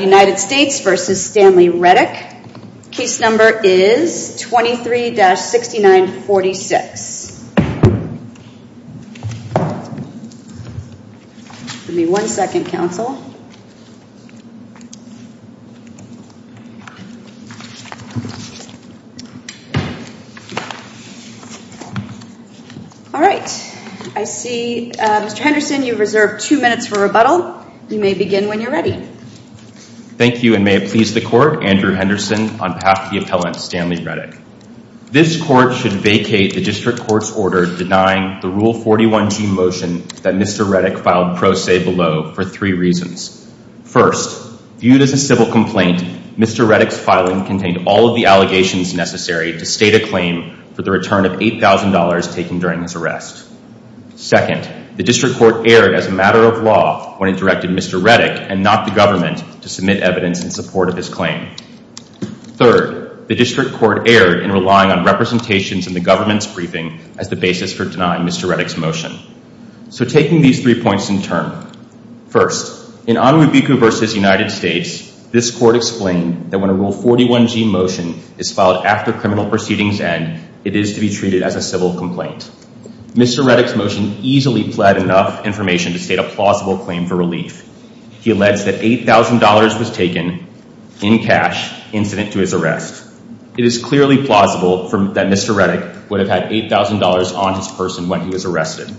United States v. Stanley Reddick. Case number is 23-6946. All right. I see Mr. Henderson, you've reserved two minutes for rebuttal. You may begin when you're ready. Thank you, and may it please the court, Andrew Henderson on behalf of the appellant Stanley Reddick. This court should vacate the district court's order denying the Rule 41G motion that Mr. Reddick filed pro se below for three reasons. First, viewed as a civil complaint, Mr. Reddick's filing contained all of the allegations necessary to state a claim for the return of $8,000 taken during his arrest. Second, the district court erred as a matter of law when it directed Mr. Reddick and not the government to submit evidence in support of his claim. Third, the district court erred in relying on representations in the government's briefing as the basis for denying Mr. Reddick's motion. So taking these three points in turn, first, in Anwubeku v. United States, this court explained that when a Rule 41G motion is filed after criminal proceedings end, it is to be treated as a civil complaint. Mr. Reddick's motion easily pled enough information to state a plausible claim for relief. He alleged that $8,000 was taken in cash incident to his arrest. It is clearly plausible that Mr. Reddick would have had $8,000 on his person when he was arrested,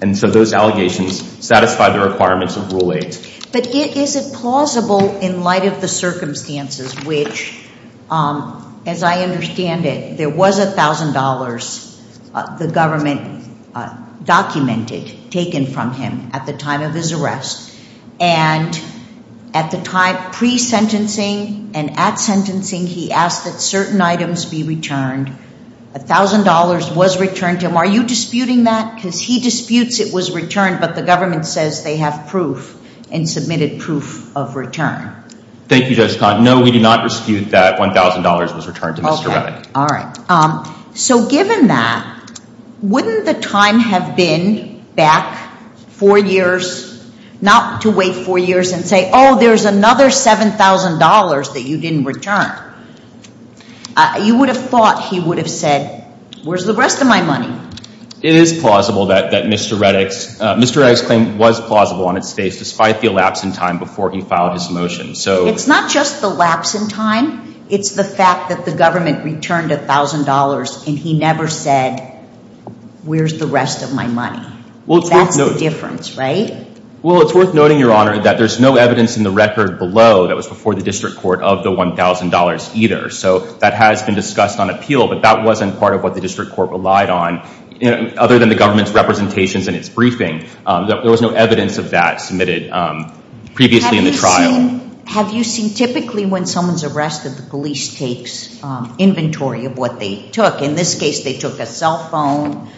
and so those allegations satisfy the requirements of Rule 8. But is it plausible in light of the circumstances which, as I understand it, there was $1,000 the government documented, taken from him at the time of his arrest, and at the time pre-sentencing and at sentencing, he asked that certain items be returned. $1,000 was returned to him. Are you disputing that? Because he disputes it was returned, but the government says they have proof and submitted proof of return. Thank you, Judge Codd. No, we do not dispute that $1,000 was returned to Mr. Reddick. All right. So given that, wouldn't the time have been back four years, not to wait four years and say, oh, there's another $7,000 that you didn't return? You would have thought he would have said, where's the rest of my money? It is plausible that Mr. Reddick's claim was plausible on its face, despite the lapse in time before he filed his motion. It's not just the lapse in time. It's the fact that the government returned $1,000 and he never said, where's the rest of my money? That's the difference, right? Well, it's worth noting, Your Honor, that there's no evidence in the record below that was before the District Court of the $1,000 either. So that has been on appeal, but that wasn't part of what the District Court relied on, other than the government's representations in its briefing. There was no evidence of that submitted previously in the trial. Have you seen typically when someone's arrested, the police takes inventory of what they took. In this case, they took a cell phone.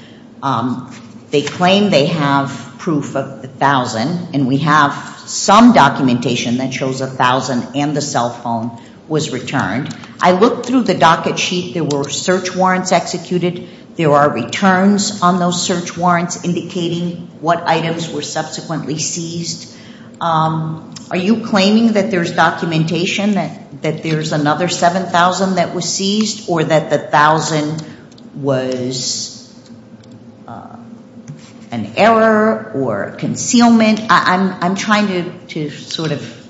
They claim they have proof of the $1,000, and we have some documentation that shows $1,000 and the cell phone was returned. I looked through the docket sheet. There were search warrants executed. There are returns on those search warrants indicating what items were subsequently seized. Are you claiming that there's documentation that there's another $7,000 that was seized or that the $1,000 was an error or concealment? I'm trying to sort of,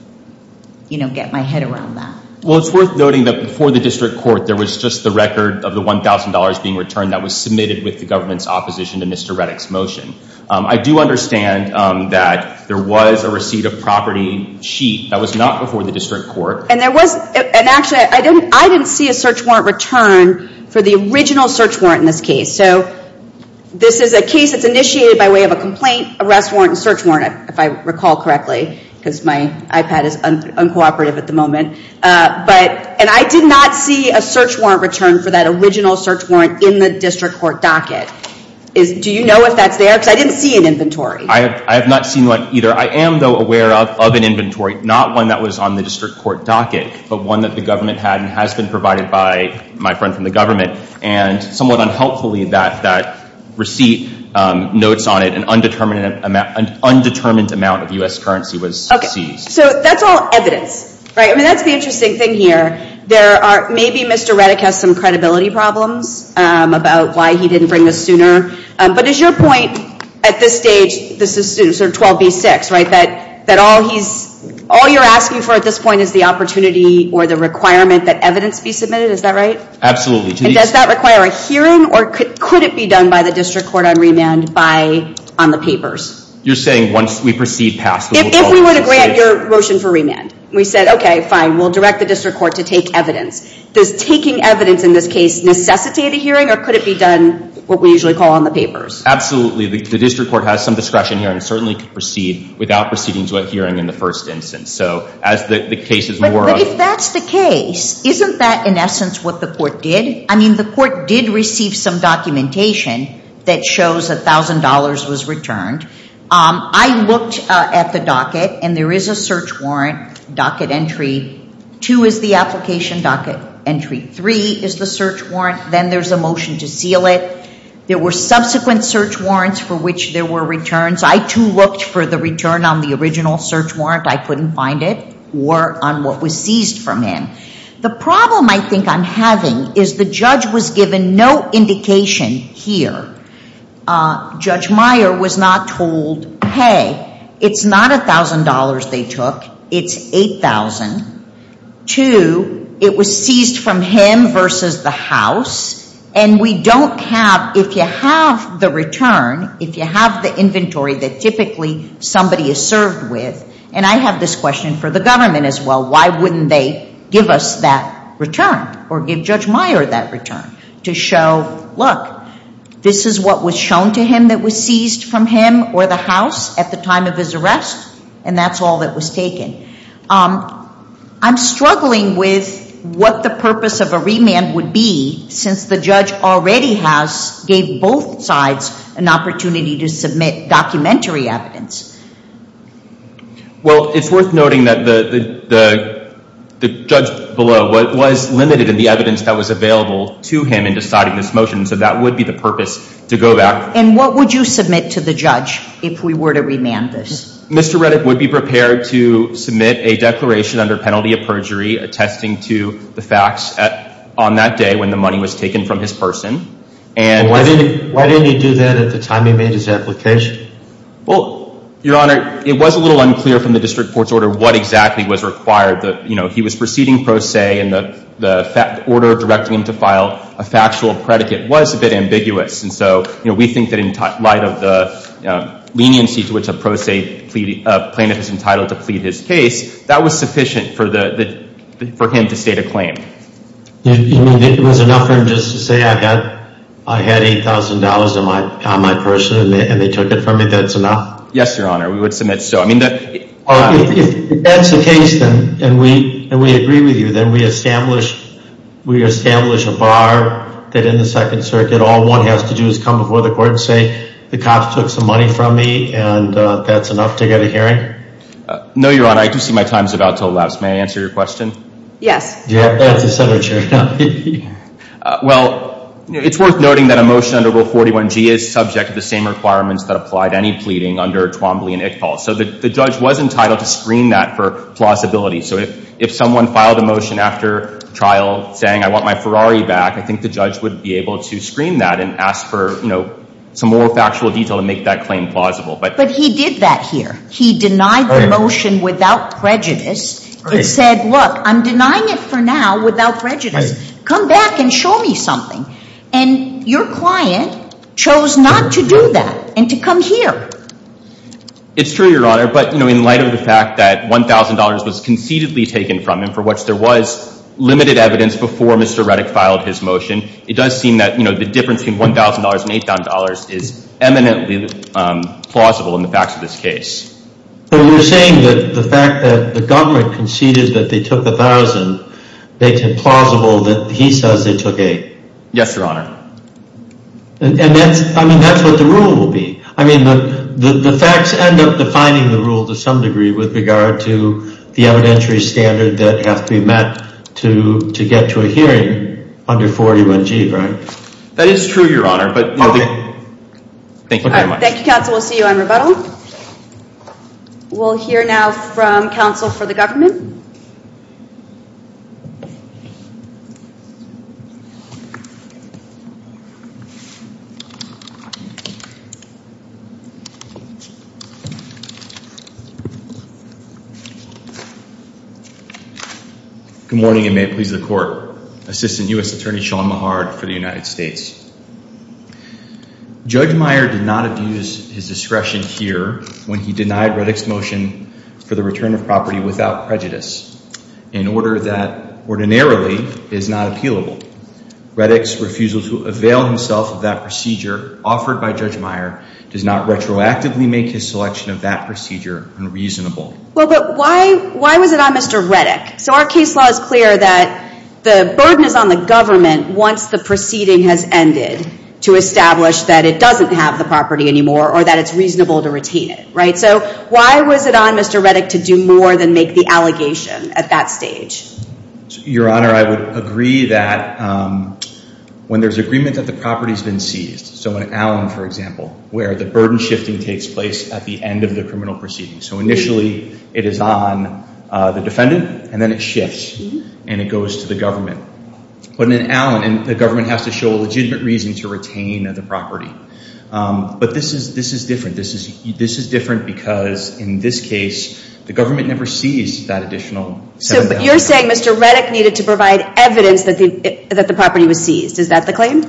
you know, get my head around that. Well, it's worth noting that before the District Court, there was just the record of the $1,000 being returned that was submitted with the government's opposition to Mr. Reddick's motion. I do understand that there was a receipt of property sheet that was not before the District Court. And there was, and actually, I didn't see a search warrant return for the original search warrant in this case. So this is a case that's initiated by way of a because my iPad is uncooperative at the moment. But, and I did not see a search warrant return for that original search warrant in the District Court docket. Do you know if that's there? Because I didn't see an inventory. I have not seen one either. I am, though, aware of an inventory, not one that was on the District Court docket, but one that the government had and has been provided by my friend from the government. And somewhat unhelpfully, that receipt notes on it an undetermined amount of U.S. currency was seized. So that's all evidence, right? I mean, that's the interesting thing here. There are, maybe Mr. Reddick has some credibility problems about why he didn't bring this sooner. But is your point at this stage, this is sort of 12B6, right? That all he's, all you're asking for at this point is the opportunity or the requirement that evidence be submitted. Is that right? Absolutely. And does that require a hearing or could it be done by the District Court on remand by, on the papers? You're saying once we proceed past the 12B6? If we want to grant your motion for remand. We said, okay, fine. We'll direct the District Court to take evidence. Does taking evidence in this case necessitate a hearing or could it be done what we usually call on the papers? Absolutely. The District Court has some discretion here and certainly could proceed without proceeding to a hearing in the first instance. So as the case is more of... But if that's the case, isn't that in essence what the court did? I mean, the court did receive some documentation that shows $1,000 was returned. I looked at the docket and there is a search warrant, docket entry. Two is the application docket entry. Three is the search warrant. Then there's a motion to seal it. There were subsequent search warrants for which there were returns. I too looked for the return on the original search is the judge was given no indication here. Judge Meyer was not told, hey, it's not $1,000 they took. It's $8,000. Two, it was seized from him versus the house. And we don't have, if you have the return, if you have the inventory that typically somebody is served with, and I have this question for the government as well, why wouldn't they give us that return or give Judge Meyer that return to show, look, this is what was shown to him that was seized from him or the house at the time of his arrest and that's all that was taken. I'm struggling with what the purpose of a remand would be since the judge already has, gave both sides an opportunity to submit documentary evidence. Well, it's worth noting that the judge below was limited in the evidence that was available to him in deciding this motion. So that would be the purpose to go back. And what would you submit to the judge if we were to remand this? Mr. Reddick would be prepared to submit a declaration under penalty of perjury attesting to the facts on that day when the money was taken from his person. And why didn't he do that at the time he made his application? Well, Your Honor, it was a little unclear from the district court's order what exactly was required that, you know, he was proceeding pro se and the order directing him to file a factual predicate was a bit ambiguous. And so, you know, we think that in light of the leniency to which a pro se plaintiff is entitled to plead his case, that was sufficient for him to state a claim. You mean it was enough for him just to say I had $8,000 on my person and they took it from me, that's enough? Yes, Your Honor, we would submit so. If that's the case, then, and we agree with you, then we establish a bar that in the Second Circuit, all one has to do is come before the court and say, the cops took some money from me and that's enough to get a hearing? No, Your Honor, I do see my answer your question? Yes. Well, it's worth noting that a motion under Rule 41G is subject to the same requirements that applied any pleading under Twombly and Ictal. So the judge was entitled to screen that for plausibility. So if someone filed a motion after trial saying I want my Ferrari back, I think the judge would be able to screen that and ask for, you know, some more factual detail to make that claim plausible. But he did that here. He denied the motion without prejudice and said, look, I'm denying it for now without prejudice. Come back and show me something. And your client chose not to do that and to come here. It's true, Your Honor, but, you know, in light of the fact that $1,000 was concededly taken from him for which there was limited evidence before Mr. Reddick filed his motion, it does seem that, you know, the difference between $1,000 and $8,000 is eminently plausible in the facts of this case. So you're saying that the fact that the government conceded that they took $1,000 makes it plausible that he says they took $8,000? Yes, Your Honor. And that's, I mean, that's what the rule will be. I mean, the facts end up defining the rule to some degree with regard to the evidentiary standard that has to be met to get to a hearing under 41G, right? That is true, Your Honor. Thank you very much. Thank you, counsel. We'll see you on rebuttal. We'll hear now from counsel for the government. Good morning and may it please the court. Assistant U.S. Attorney Sean Mahard for the United States. Judge Meyer did not abuse his discretion here when he denied Reddick's motion for the return of property without prejudice in order that ordinarily is not appealable. Reddick's refusal to avail himself of that procedure offered by Judge Meyer does not retroactively make his selection of that procedure unreasonable. Well, but why was it on Mr. Reddick? So our case law is clear that the burden is on the government once the proceeding has ended to establish that it doesn't have the property anymore or that it's reasonable to retain it, so why was it on Mr. Reddick to do more than make the allegation at that stage? Your Honor, I would agree that when there's agreement that the property's been seized, so in Allen, for example, where the burden shifting takes place at the end of the criminal proceeding, so initially it is on the defendant and then it shifts and it goes to the government. But in Allen, the government has to show a legitimate reason to retain the property, but this is different. This is different because in this case, the government never seized that additional. So you're saying Mr. Reddick needed to provide evidence that the property was seized, is that the claim?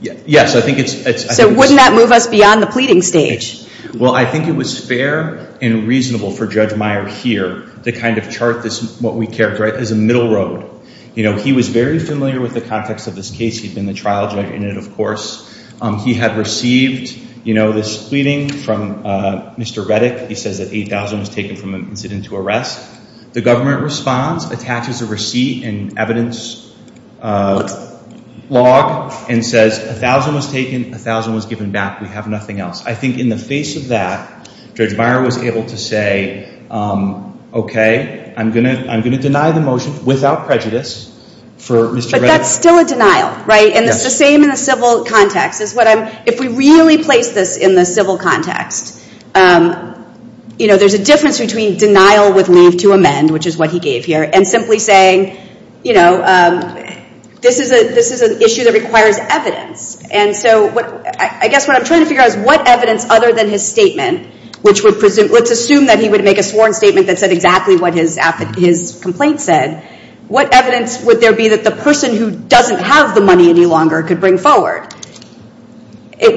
Yes, I think it's... So wouldn't that move us beyond the pleading stage? Well, I think it was fair and reasonable for Judge Meyer here to kind of chart this, what we characterize as a middle road. You know, he was very familiar with the context of this case. He'd been the trial judge in it, of course. He had received this pleading from Mr. Reddick. He says that 8,000 was taken from him and sent into arrest. The government responds, attaches a receipt and evidence log and says 1,000 was taken, 1,000 was given back. We have nothing else. I think in the face of that, Judge Meyer was able to say, okay, I'm going to deny the motion without prejudice for Mr. Reddick. But that's still a denial, right? And it's the same in the civil context. If we really place this in the civil context, you know, there's a difference between denial with leave to amend, which is what he gave here, and simply saying, you know, this is an issue that requires evidence. And so I guess what I'm trying to figure out is what evidence other than his statement, which would presume, let's assume that he would make a sworn statement that said exactly what his complaint said, what evidence would there be that the person who doesn't have the money any longer could bring forward?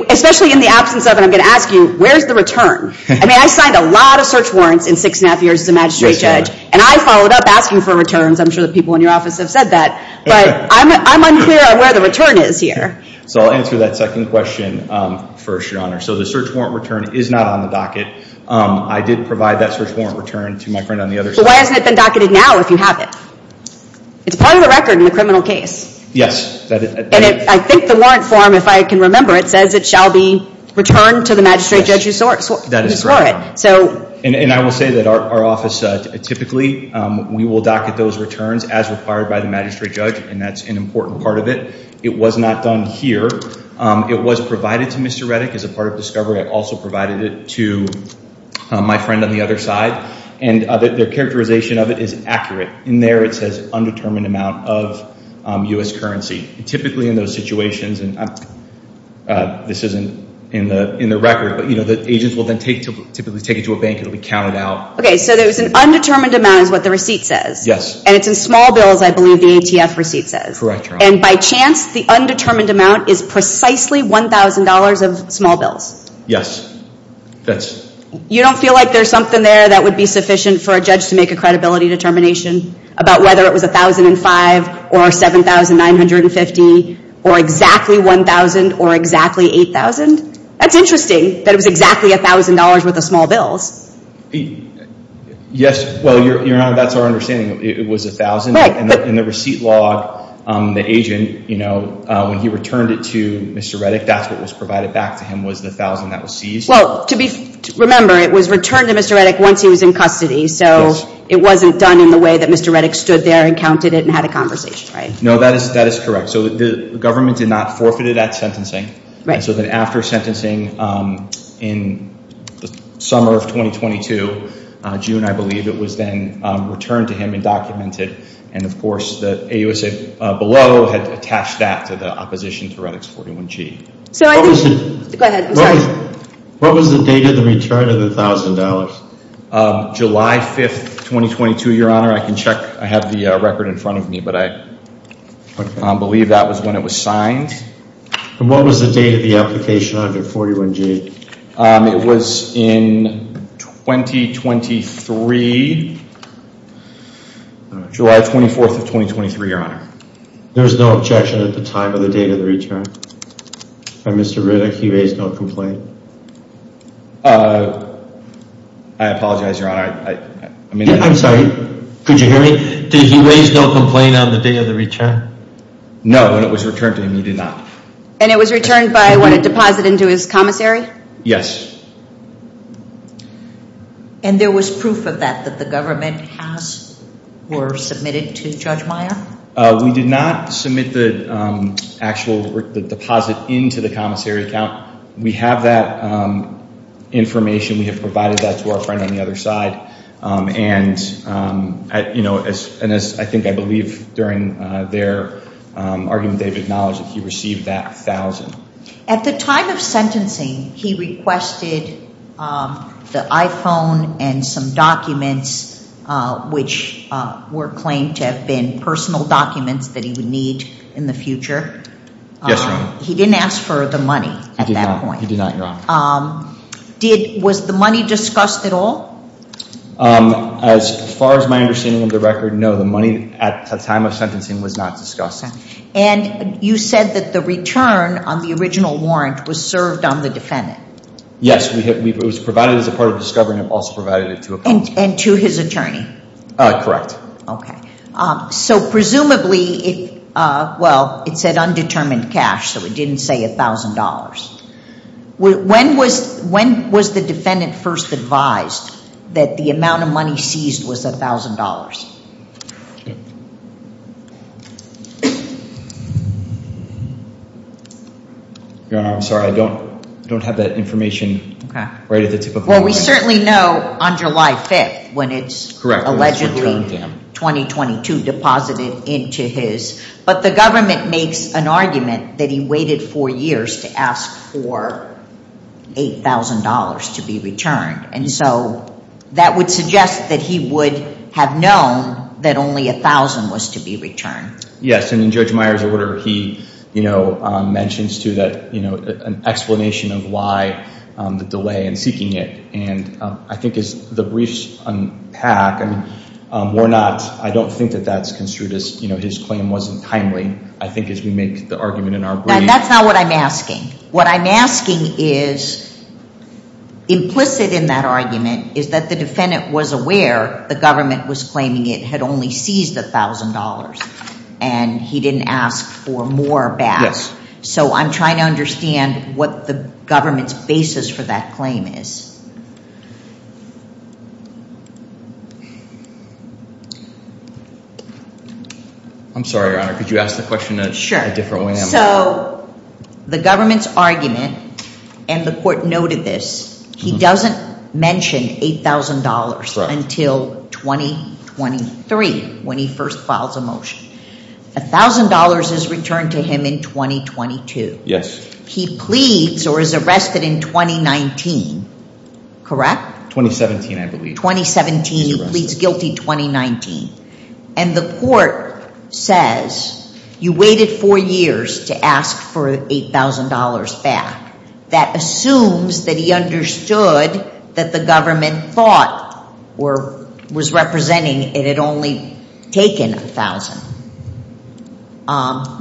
Especially in the absence of, and I'm going to ask you, where's the return? I mean, I signed a lot of search warrants in six and a half years as a magistrate judge, and I followed up asking for returns. I'm sure that people in your office have said that. But I'm unclear on where the return is here. So I'll answer that second question first, Your Honor. So the search warrant return is not on the docket. I did provide that search warrant return to my friend on the other side. But why hasn't it been docketed now if you have it? It's part of the record in the criminal case. Yes. And I think the warrant form, if I can remember, it says it shall be returned to the magistrate judge who swore it. That is correct, Your Honor. So. And I will say that our office, typically, we will docket those returns as required by the magistrate judge, and that's an important part of it. It was not done here. It was provided to Mr. My friend on the other side. And their characterization of it is accurate. In there, it says undetermined amount of U.S. currency. Typically, in those situations, and this isn't in the record, but, you know, the agents will then typically take it to a bank. It'll be counted out. Okay. So there's an undetermined amount is what the receipt says. Yes. And it's in small bills, I believe, the ATF receipt says. Correct, Your Honor. And by chance, the undetermined amount is precisely $1,000 of small bills. Yes. You don't feel like there's something there that would be sufficient for a judge to make a credibility determination about whether it was $1,005 or $7,950 or exactly $1,000 or exactly $8,000? That's interesting that it was exactly $1,000 worth of small bills. Yes. Well, Your Honor, that's our understanding. It was $1,000. In the receipt log, the agent, you know, when he returned it to Mr. Reddick, that's what was provided back to him was the $1,000 that was seized. Well, remember, it was returned to Mr. Reddick once he was in custody. So it wasn't done in the way that Mr. Reddick stood there and counted it and had a conversation, right? No, that is correct. So the government did not forfeit it at sentencing. And so then after sentencing in the summer of 2022, June, I believe, it was then returned to him and documented. And of course, the AUSA below had attached that to the opposition to Reddick's 41G. So I think... Go ahead. I'm sorry. What was the date of the return of the $1,000? July 5th, 2022, Your Honor. I can check. I have the record in front of me, but I believe that was when it was signed. And what was the date of the application under 41G? It was in 2023, July 24th of 2023, Your Honor. There was no objection at the time of the date of the return from Mr. Reddick. He raised no complaint. I apologize, Your Honor. I mean... I'm sorry. Could you hear me? Did he raise no complaint on the date of the return? No. And it was returned to him. He did not. And it was returned by what a deposit into his commissary? Yes. And there was proof of that, that the government has... or submitted to Judge Meyer? We did not submit the actual deposit into the commissary account. We have that information. We have provided that to our friend on the other side. And, you know, as I think I believe during their argument, they've acknowledged that he received that thousand. At the time of sentencing, he requested the iPhone and some documents, which were claimed to have been personal documents that he would need in the future. Yes, Your Honor. He didn't ask for the money at that point. He did not, Your Honor. Was the money discussed at all? As far as my understanding of the record, no. The money at the time of sentencing was not discussed. And you said that the return on the original warrant was served on the defendant? Yes. It was provided as a part of the discovery and also provided it to a... And to his attorney? Correct. Okay. So presumably, well, it said undetermined cash, so it didn't say a thousand dollars. When was the defendant first advised that the amount of $8,000 would be returned? Your Honor, I'm sorry. I don't have that information right at the tip of my tongue. Well, we certainly know on July 5th when it's allegedly 2022 deposited into his. But the government makes an argument that he waited four years to ask for $8,000 to be returned. And so that would suggest that he would have known that only a thousand was to be returned. Yes. And in Judge Meyer's order, he, you know, mentions too that, you know, an explanation of why the delay in seeking it. And I think as the briefs unpack, I mean, we're not, I don't think that that's construed as, you know, his claim wasn't timely. I think as we make the argument That's not what I'm asking. What I'm asking is implicit in that argument is that the defendant was aware the government was claiming it had only seized $1,000 and he didn't ask for more back. So I'm trying to understand what the government's basis for that claim is. I'm sorry, Your Honor. Could you ask the question a different way? Sure. So the government's argument and the court noted this, he doesn't mention $8,000 until 2023 when he first files a motion. A thousand dollars is returned to him in 2022. Yes. He pleads or is arrested in 2019 Correct? 2017, I believe. 2017. He pleads guilty 2019. And the court says you waited four years to ask for $8,000 back. That assumes that he understood that the government thought or was representing it had only taken a thousand.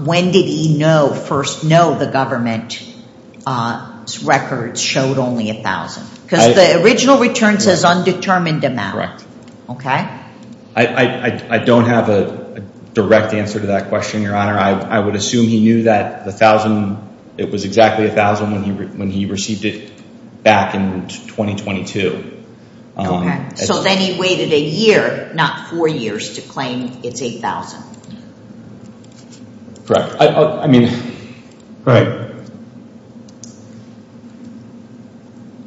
When did he know, first know the government records showed only a thousand? Because the original return says undetermined amount. Okay. I don't have a direct answer to that question, Your Honor. I would assume he knew that the thousand, it was exactly a thousand when he received it back in 2022. Okay. So then he waited a year, not four years to claim it's $8,000. Correct. I mean, right.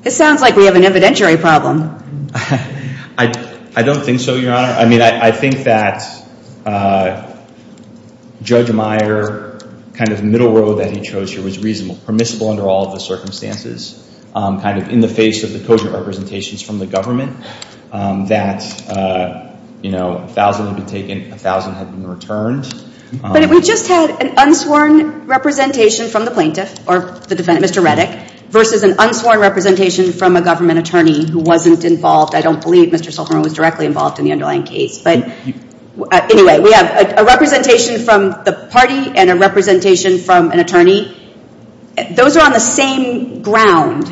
It sounds like we have an evidentiary problem. I don't think so, Your Honor. I mean, I think that Judge Meyer kind of middle road that he chose here was reasonable, permissible under all of the circumstances, kind of in the face of the cogent representations from the government, that, you know, a thousand had been taken, a thousand had been returned. But we just had an unsworn representation from the plaintiff or the defendant, Mr. Reddick, versus an unsworn representation from a government attorney who wasn't involved. I don't believe Mr. Silverman was directly involved in the underlying case. But anyway, we have a representation from the party and a representation from an attorney. Those are on the same ground,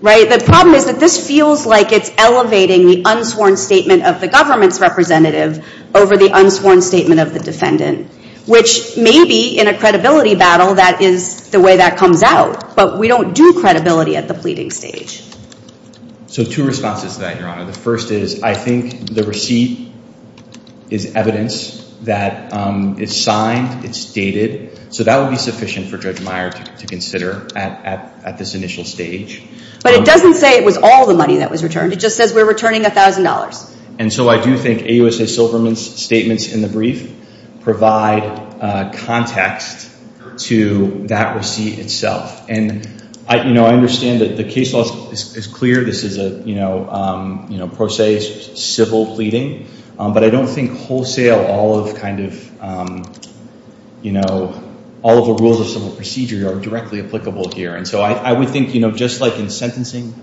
right? The problem is that this feels like it's elevating the unsworn statement of the government's representative over the unsworn statement of the defendant, which maybe in a credibility battle, that is the way that comes out. But we don't do credibility at the pleading stage. So two responses to that, Your Honor. The first is I think the receipt is evidence that it's signed, it's dated. So that would be sufficient for Judge Meyer to consider at this initial stage. But it doesn't say it was all the money that was returned. It just says we're returning a thousand dollars. And so I do think AUSA Silverman's statements in the brief provide context to that receipt itself. And, you know, I understand that the case law is clear. This is a, you know, you know, pro se civil pleading. But I don't think wholesale all of kind of, you know, all of the rules of civil procedure are directly applicable here. And so I would think, you know, just like in sentencing,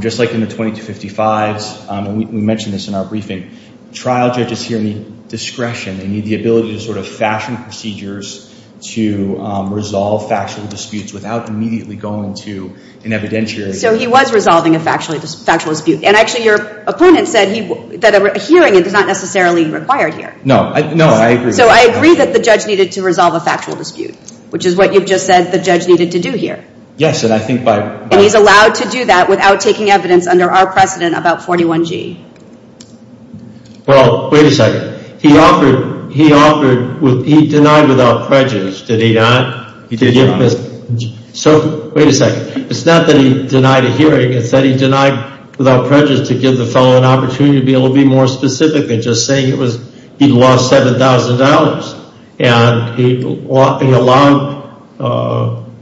just like in the 2255s, and we mentioned this in our briefing, trial judges here need discretion. They need the ability to sort of fashion procedures to resolve factual disputes without immediately going to an evidentiary. So he was resolving a factual dispute. And actually your opponent said he, that a hearing is not necessarily required here. No, no, I agree. So I agree that the judge needed to resolve a factual dispute, which is what you've just said the judge needed to do here. Yes, and I think by... And he's allowed to do that without taking evidence under our precedent about 41G. Well, wait a second. He offered, he offered, he denied without prejudice, did he not? So wait a second. It's not that he denied a hearing. It's that he denied without prejudice to give the fellow an opportunity to be able to be more specific than just saying it was, he lost $7,000. And he allowed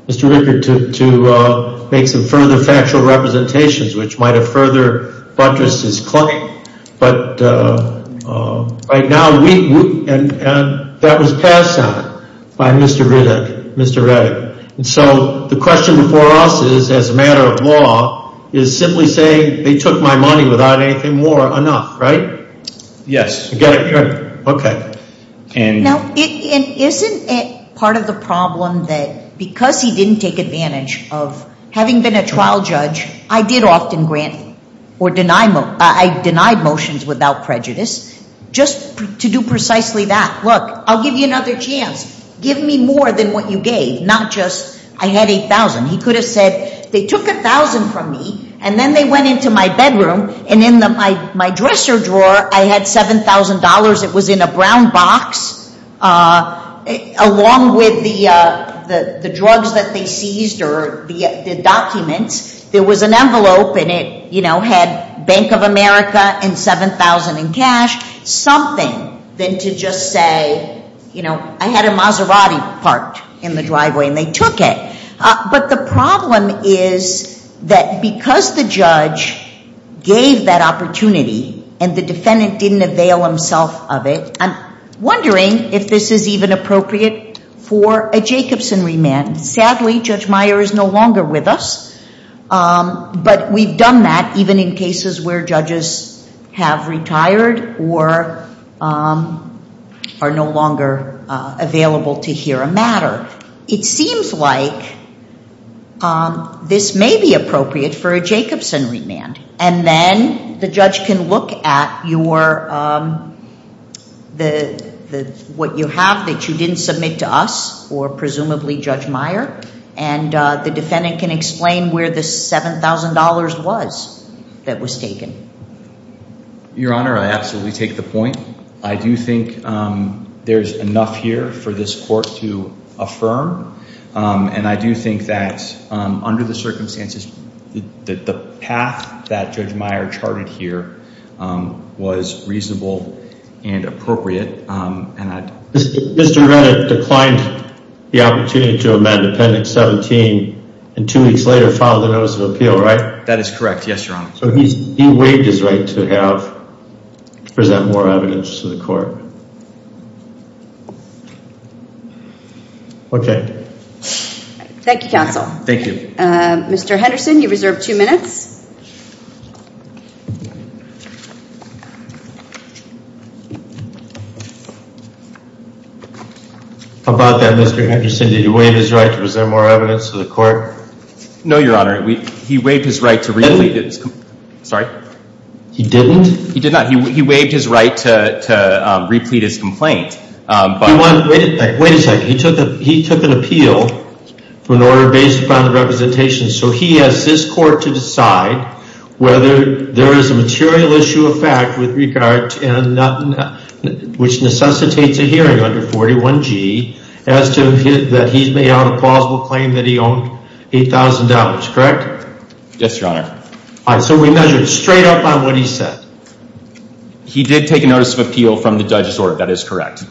Mr. Rickard to make some further factual representations, which might have further buttressed his claim. But right now we, and that was passed on by Mr. Riddick, Mr. Riddick. And so the question before us is, as a matter of law, is simply saying they took my money without anything more enough, right? Yes. Okay. And... Now, isn't it part of the problem that because he didn't take advantage of having been a trial judge, I did often grant or deny, I denied motions without prejudice just to do precisely that. Look, I'll give you another chance. Give me more than what you gave. Not just, I had $8,000. He could have said, they took $1,000 from me and then they went into my bedroom and in my dresser I had $7,000. It was in a brown box. Along with the drugs that they seized or the documents, there was an envelope and it had Bank of America and 7,000 in cash, something than to just say, I had a Maserati parked in the driveway and they took it. But the problem is that because the judge gave that opportunity and the defendant didn't avail himself of it, I'm wondering if this is even appropriate for a Jacobson remand. Sadly, Judge Meyer is no longer with us, but we've done that even in cases where judges have retired or are no longer available to hear a matter. It seems like this may be appropriate for a Jacobson remand. And then the judge can look at what you have that you didn't submit to us or presumably Judge Meyer and the defendant can explain where the $7,000 was that was taken. Your Honor, I absolutely take the point. I do think there's enough here for this court to affirm. And I do think that under the circumstances that the path that Judge Meyer charted here was reasonable and appropriate. Mr. Reddick declined the opportunity to amend Appendix 17 and two weeks later filed a notice of appeal, right? That is correct. Yes, Your Honor. So he waived his right to have present more evidence to the court. Okay. Thank you, counsel. Thank you. Mr. Henderson, you reserve two minutes. How about that, Mr. Henderson? Did he waive his right to present more evidence to the court? No, Your Honor. He did not. He waived his right to replete his complaint. Wait a second. He took an appeal for an order based upon the representation. So he has this court to decide whether there is a material issue of fact which necessitates a hearing under 41G as to that he's made out a plausible claim that he owned $8,000, correct? Yes, Your Honor. All right, so we measured straight up on what he said. He did take a notice of appeal from the judge's order. That is correct.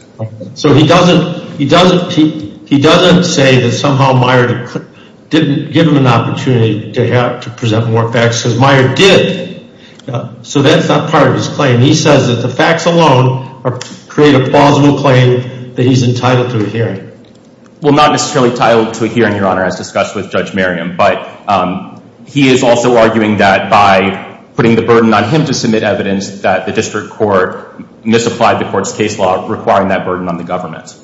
So he doesn't say that somehow Meyer didn't give him an opportunity to have to present more facts because Meyer did. So that's not part of his claim. He says that the facts alone create a plausible claim that he's entitled to a hearing. Well, not necessarily entitled to a hearing, Your Honor, as discussed with Judge Merriam, but he is also arguing that by putting the burden on him to submit evidence that the district court misapplied the court's case law, requiring that burden on the government.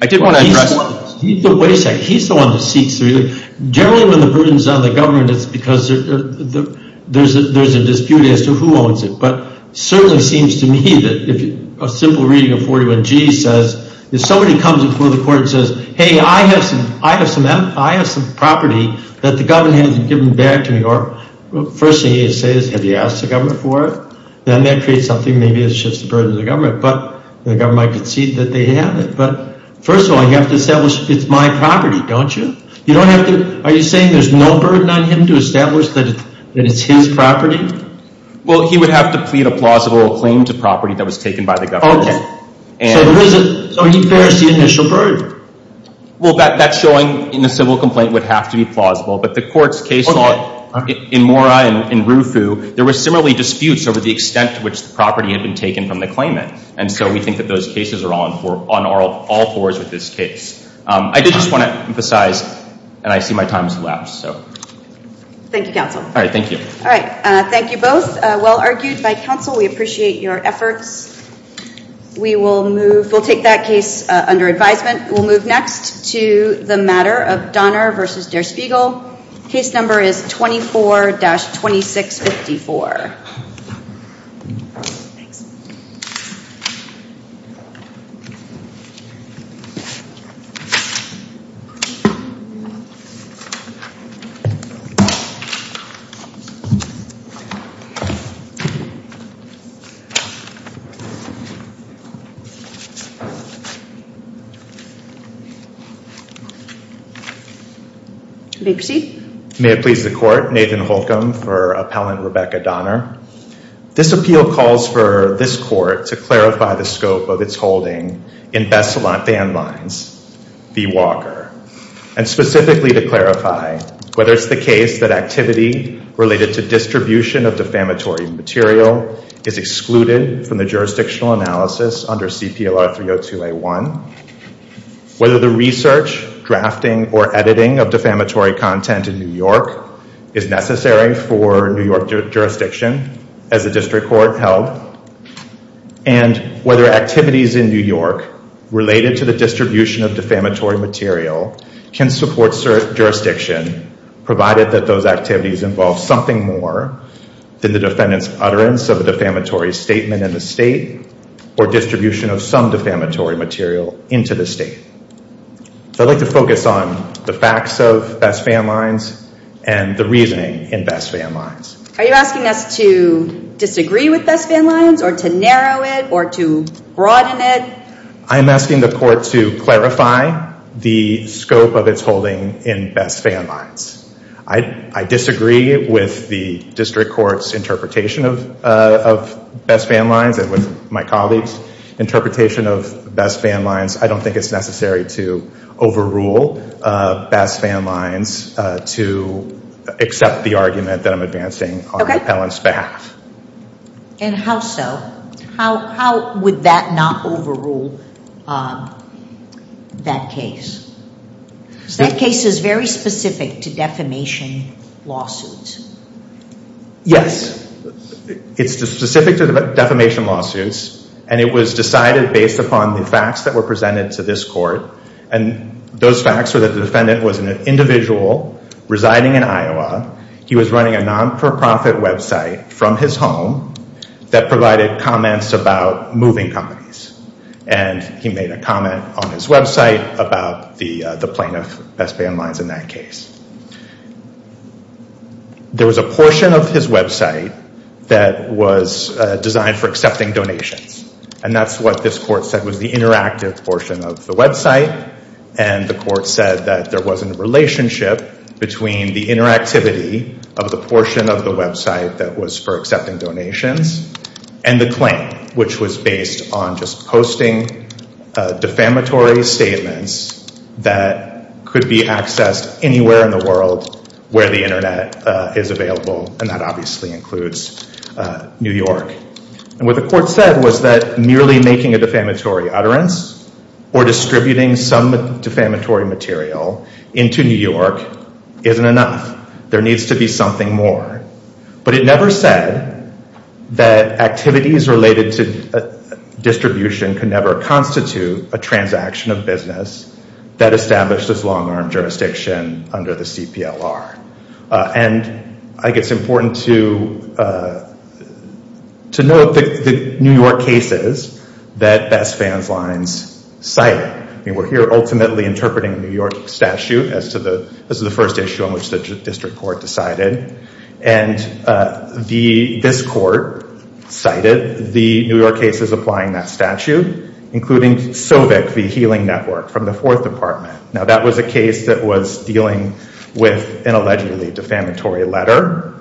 I did want to address... Wait a second. He's the one that seeks through. Generally, when the burden's on the government, it's because there's a dispute as to who owns it. But it certainly seems to me that if a simple reading of 41G says, if somebody comes before the court and says, hey, I have some property that the government hasn't given back to me, the first thing he has to say is, have you asked the government for it? Then that creates something maybe that shifts the burden to the government, but the government might concede that they have it. But first of all, you have to establish it's my property, don't you? You don't have to... Are you saying there's no burden on him to establish that it's his property? Well, he would have to plead a plausible claim to property that was taken by the government. Okay. So he bears the initial burden. Well, that's showing in a civil complaint would have to be plausible, but the court's case law in Mora and Rufu, there were similarly disputes over the extent to which the property had been taken from the claimant. And so we think that those cases are on all fours with this case. I did just want to emphasize, and I see my time has elapsed, so. Thank you, counsel. All right. Thank you. All right. Thank you both. Well argued by counsel. We appreciate your efforts. We'll take that case under advisement. We'll move next to the matter of Donner versus Der Spiegel. Case number is 24-2654. May it please the court. Nathan Holcomb for appellant Rebecca Donner. This appeal calls for this court to clarify the scope of its holding in Bessalon Van Lines v. Walker, and specifically to clarify whether it's the case that activity related to distribution of defamatory material is excluded from the jurisdictional analysis under CPLR 302A1, whether the research, drafting, or editing of defamatory content in New York is necessary for New York jurisdiction as a district court held, and whether activities in New York related to the distribution of defamatory material can support jurisdiction provided that those activities involve something more than the defendant's utterance of a defamatory statement in the state or distribution of some defamatory material. Into the state. So I'd like to focus on the facts of Bessalon Van Lines and the reasoning in Bessalon Van Lines. Are you asking us to disagree with Bessalon Van Lines or to narrow it or to broaden it? I'm asking the court to clarify the scope of its holding in Bessalon Van Lines. I disagree with the district court's interpretation of Bessalon Van Lines and with my colleagues' interpretation of Bessalon Van Lines. I don't think it's necessary to overrule Bessalon Van Lines to accept the argument that I'm advancing on Helen's behalf. And how so? How would that not overrule that case? That case is very specific to defamation lawsuits. Yes. It's specific to defamation lawsuits, and it was decided based upon the facts that were presented to this court. And those facts were that the defendant was an individual residing in Iowa. He was running a non-for-profit website from his home that provided comments about moving companies. And he made a comment on his website about the plaintiff, Bessalon Van Lines, in that case. There was a portion of his website that was designed for accepting donations. And that's what this court said was the interactive portion of the website. And the court said that there wasn't a relationship between the interactivity of the portion of the website that was for accepting donations and the claim, which was based on just posting defamatory statements that could be accessed anywhere in the world where the Internet is available. And that obviously includes New York. And what the court said was that merely making a defamatory utterance or distributing some defamatory material into New York isn't enough. There needs to be something more. But it never said that activities related to distribution could never constitute a transaction of business that established as long-arm jurisdiction under the CPLR. And I think it's important to note the New York cases that Bessalon Van Lines cited. I mean, we're here ultimately interpreting a New York statute as to the first issue on which the district court decided. And this court cited the New York cases applying that statute, including Sovic v. Healing Network from the Fourth Department. Now, that was a case that was dealing with an allegedly defamatory letter.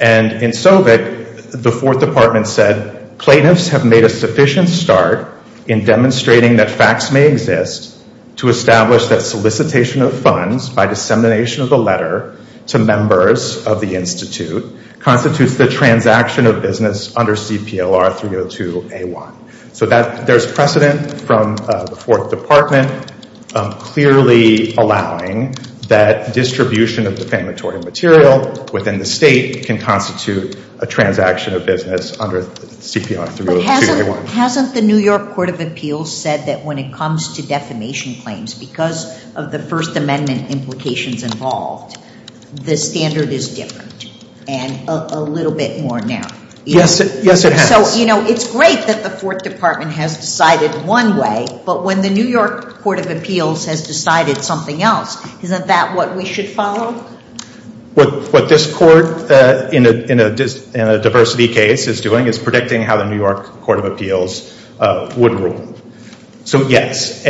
And in Sovic, the Fourth Department said, plaintiffs have made a sufficient start in demonstrating that facts may exist to establish that solicitation of funds by dissemination of the letter to members of the Institute constitutes the transaction of business under CPLR 302A1. So there's precedent from the Fourth Department clearly allowing that distribution of defamatory material within the state can constitute a transaction of business under CPLR 302A1. But hasn't the New York Court of Appeals said that when it comes to defamation claims because of the First Amendment implications involved, the standard is different and a little bit more narrow? Yes, it has. So, you know, it's great that the Fourth Department has decided one way, but when the New York Court of Appeals has decided something else, isn't that what we should follow? What this court in a diversity case is doing is predicting how the New York Court of Appeals would rule. So, yes.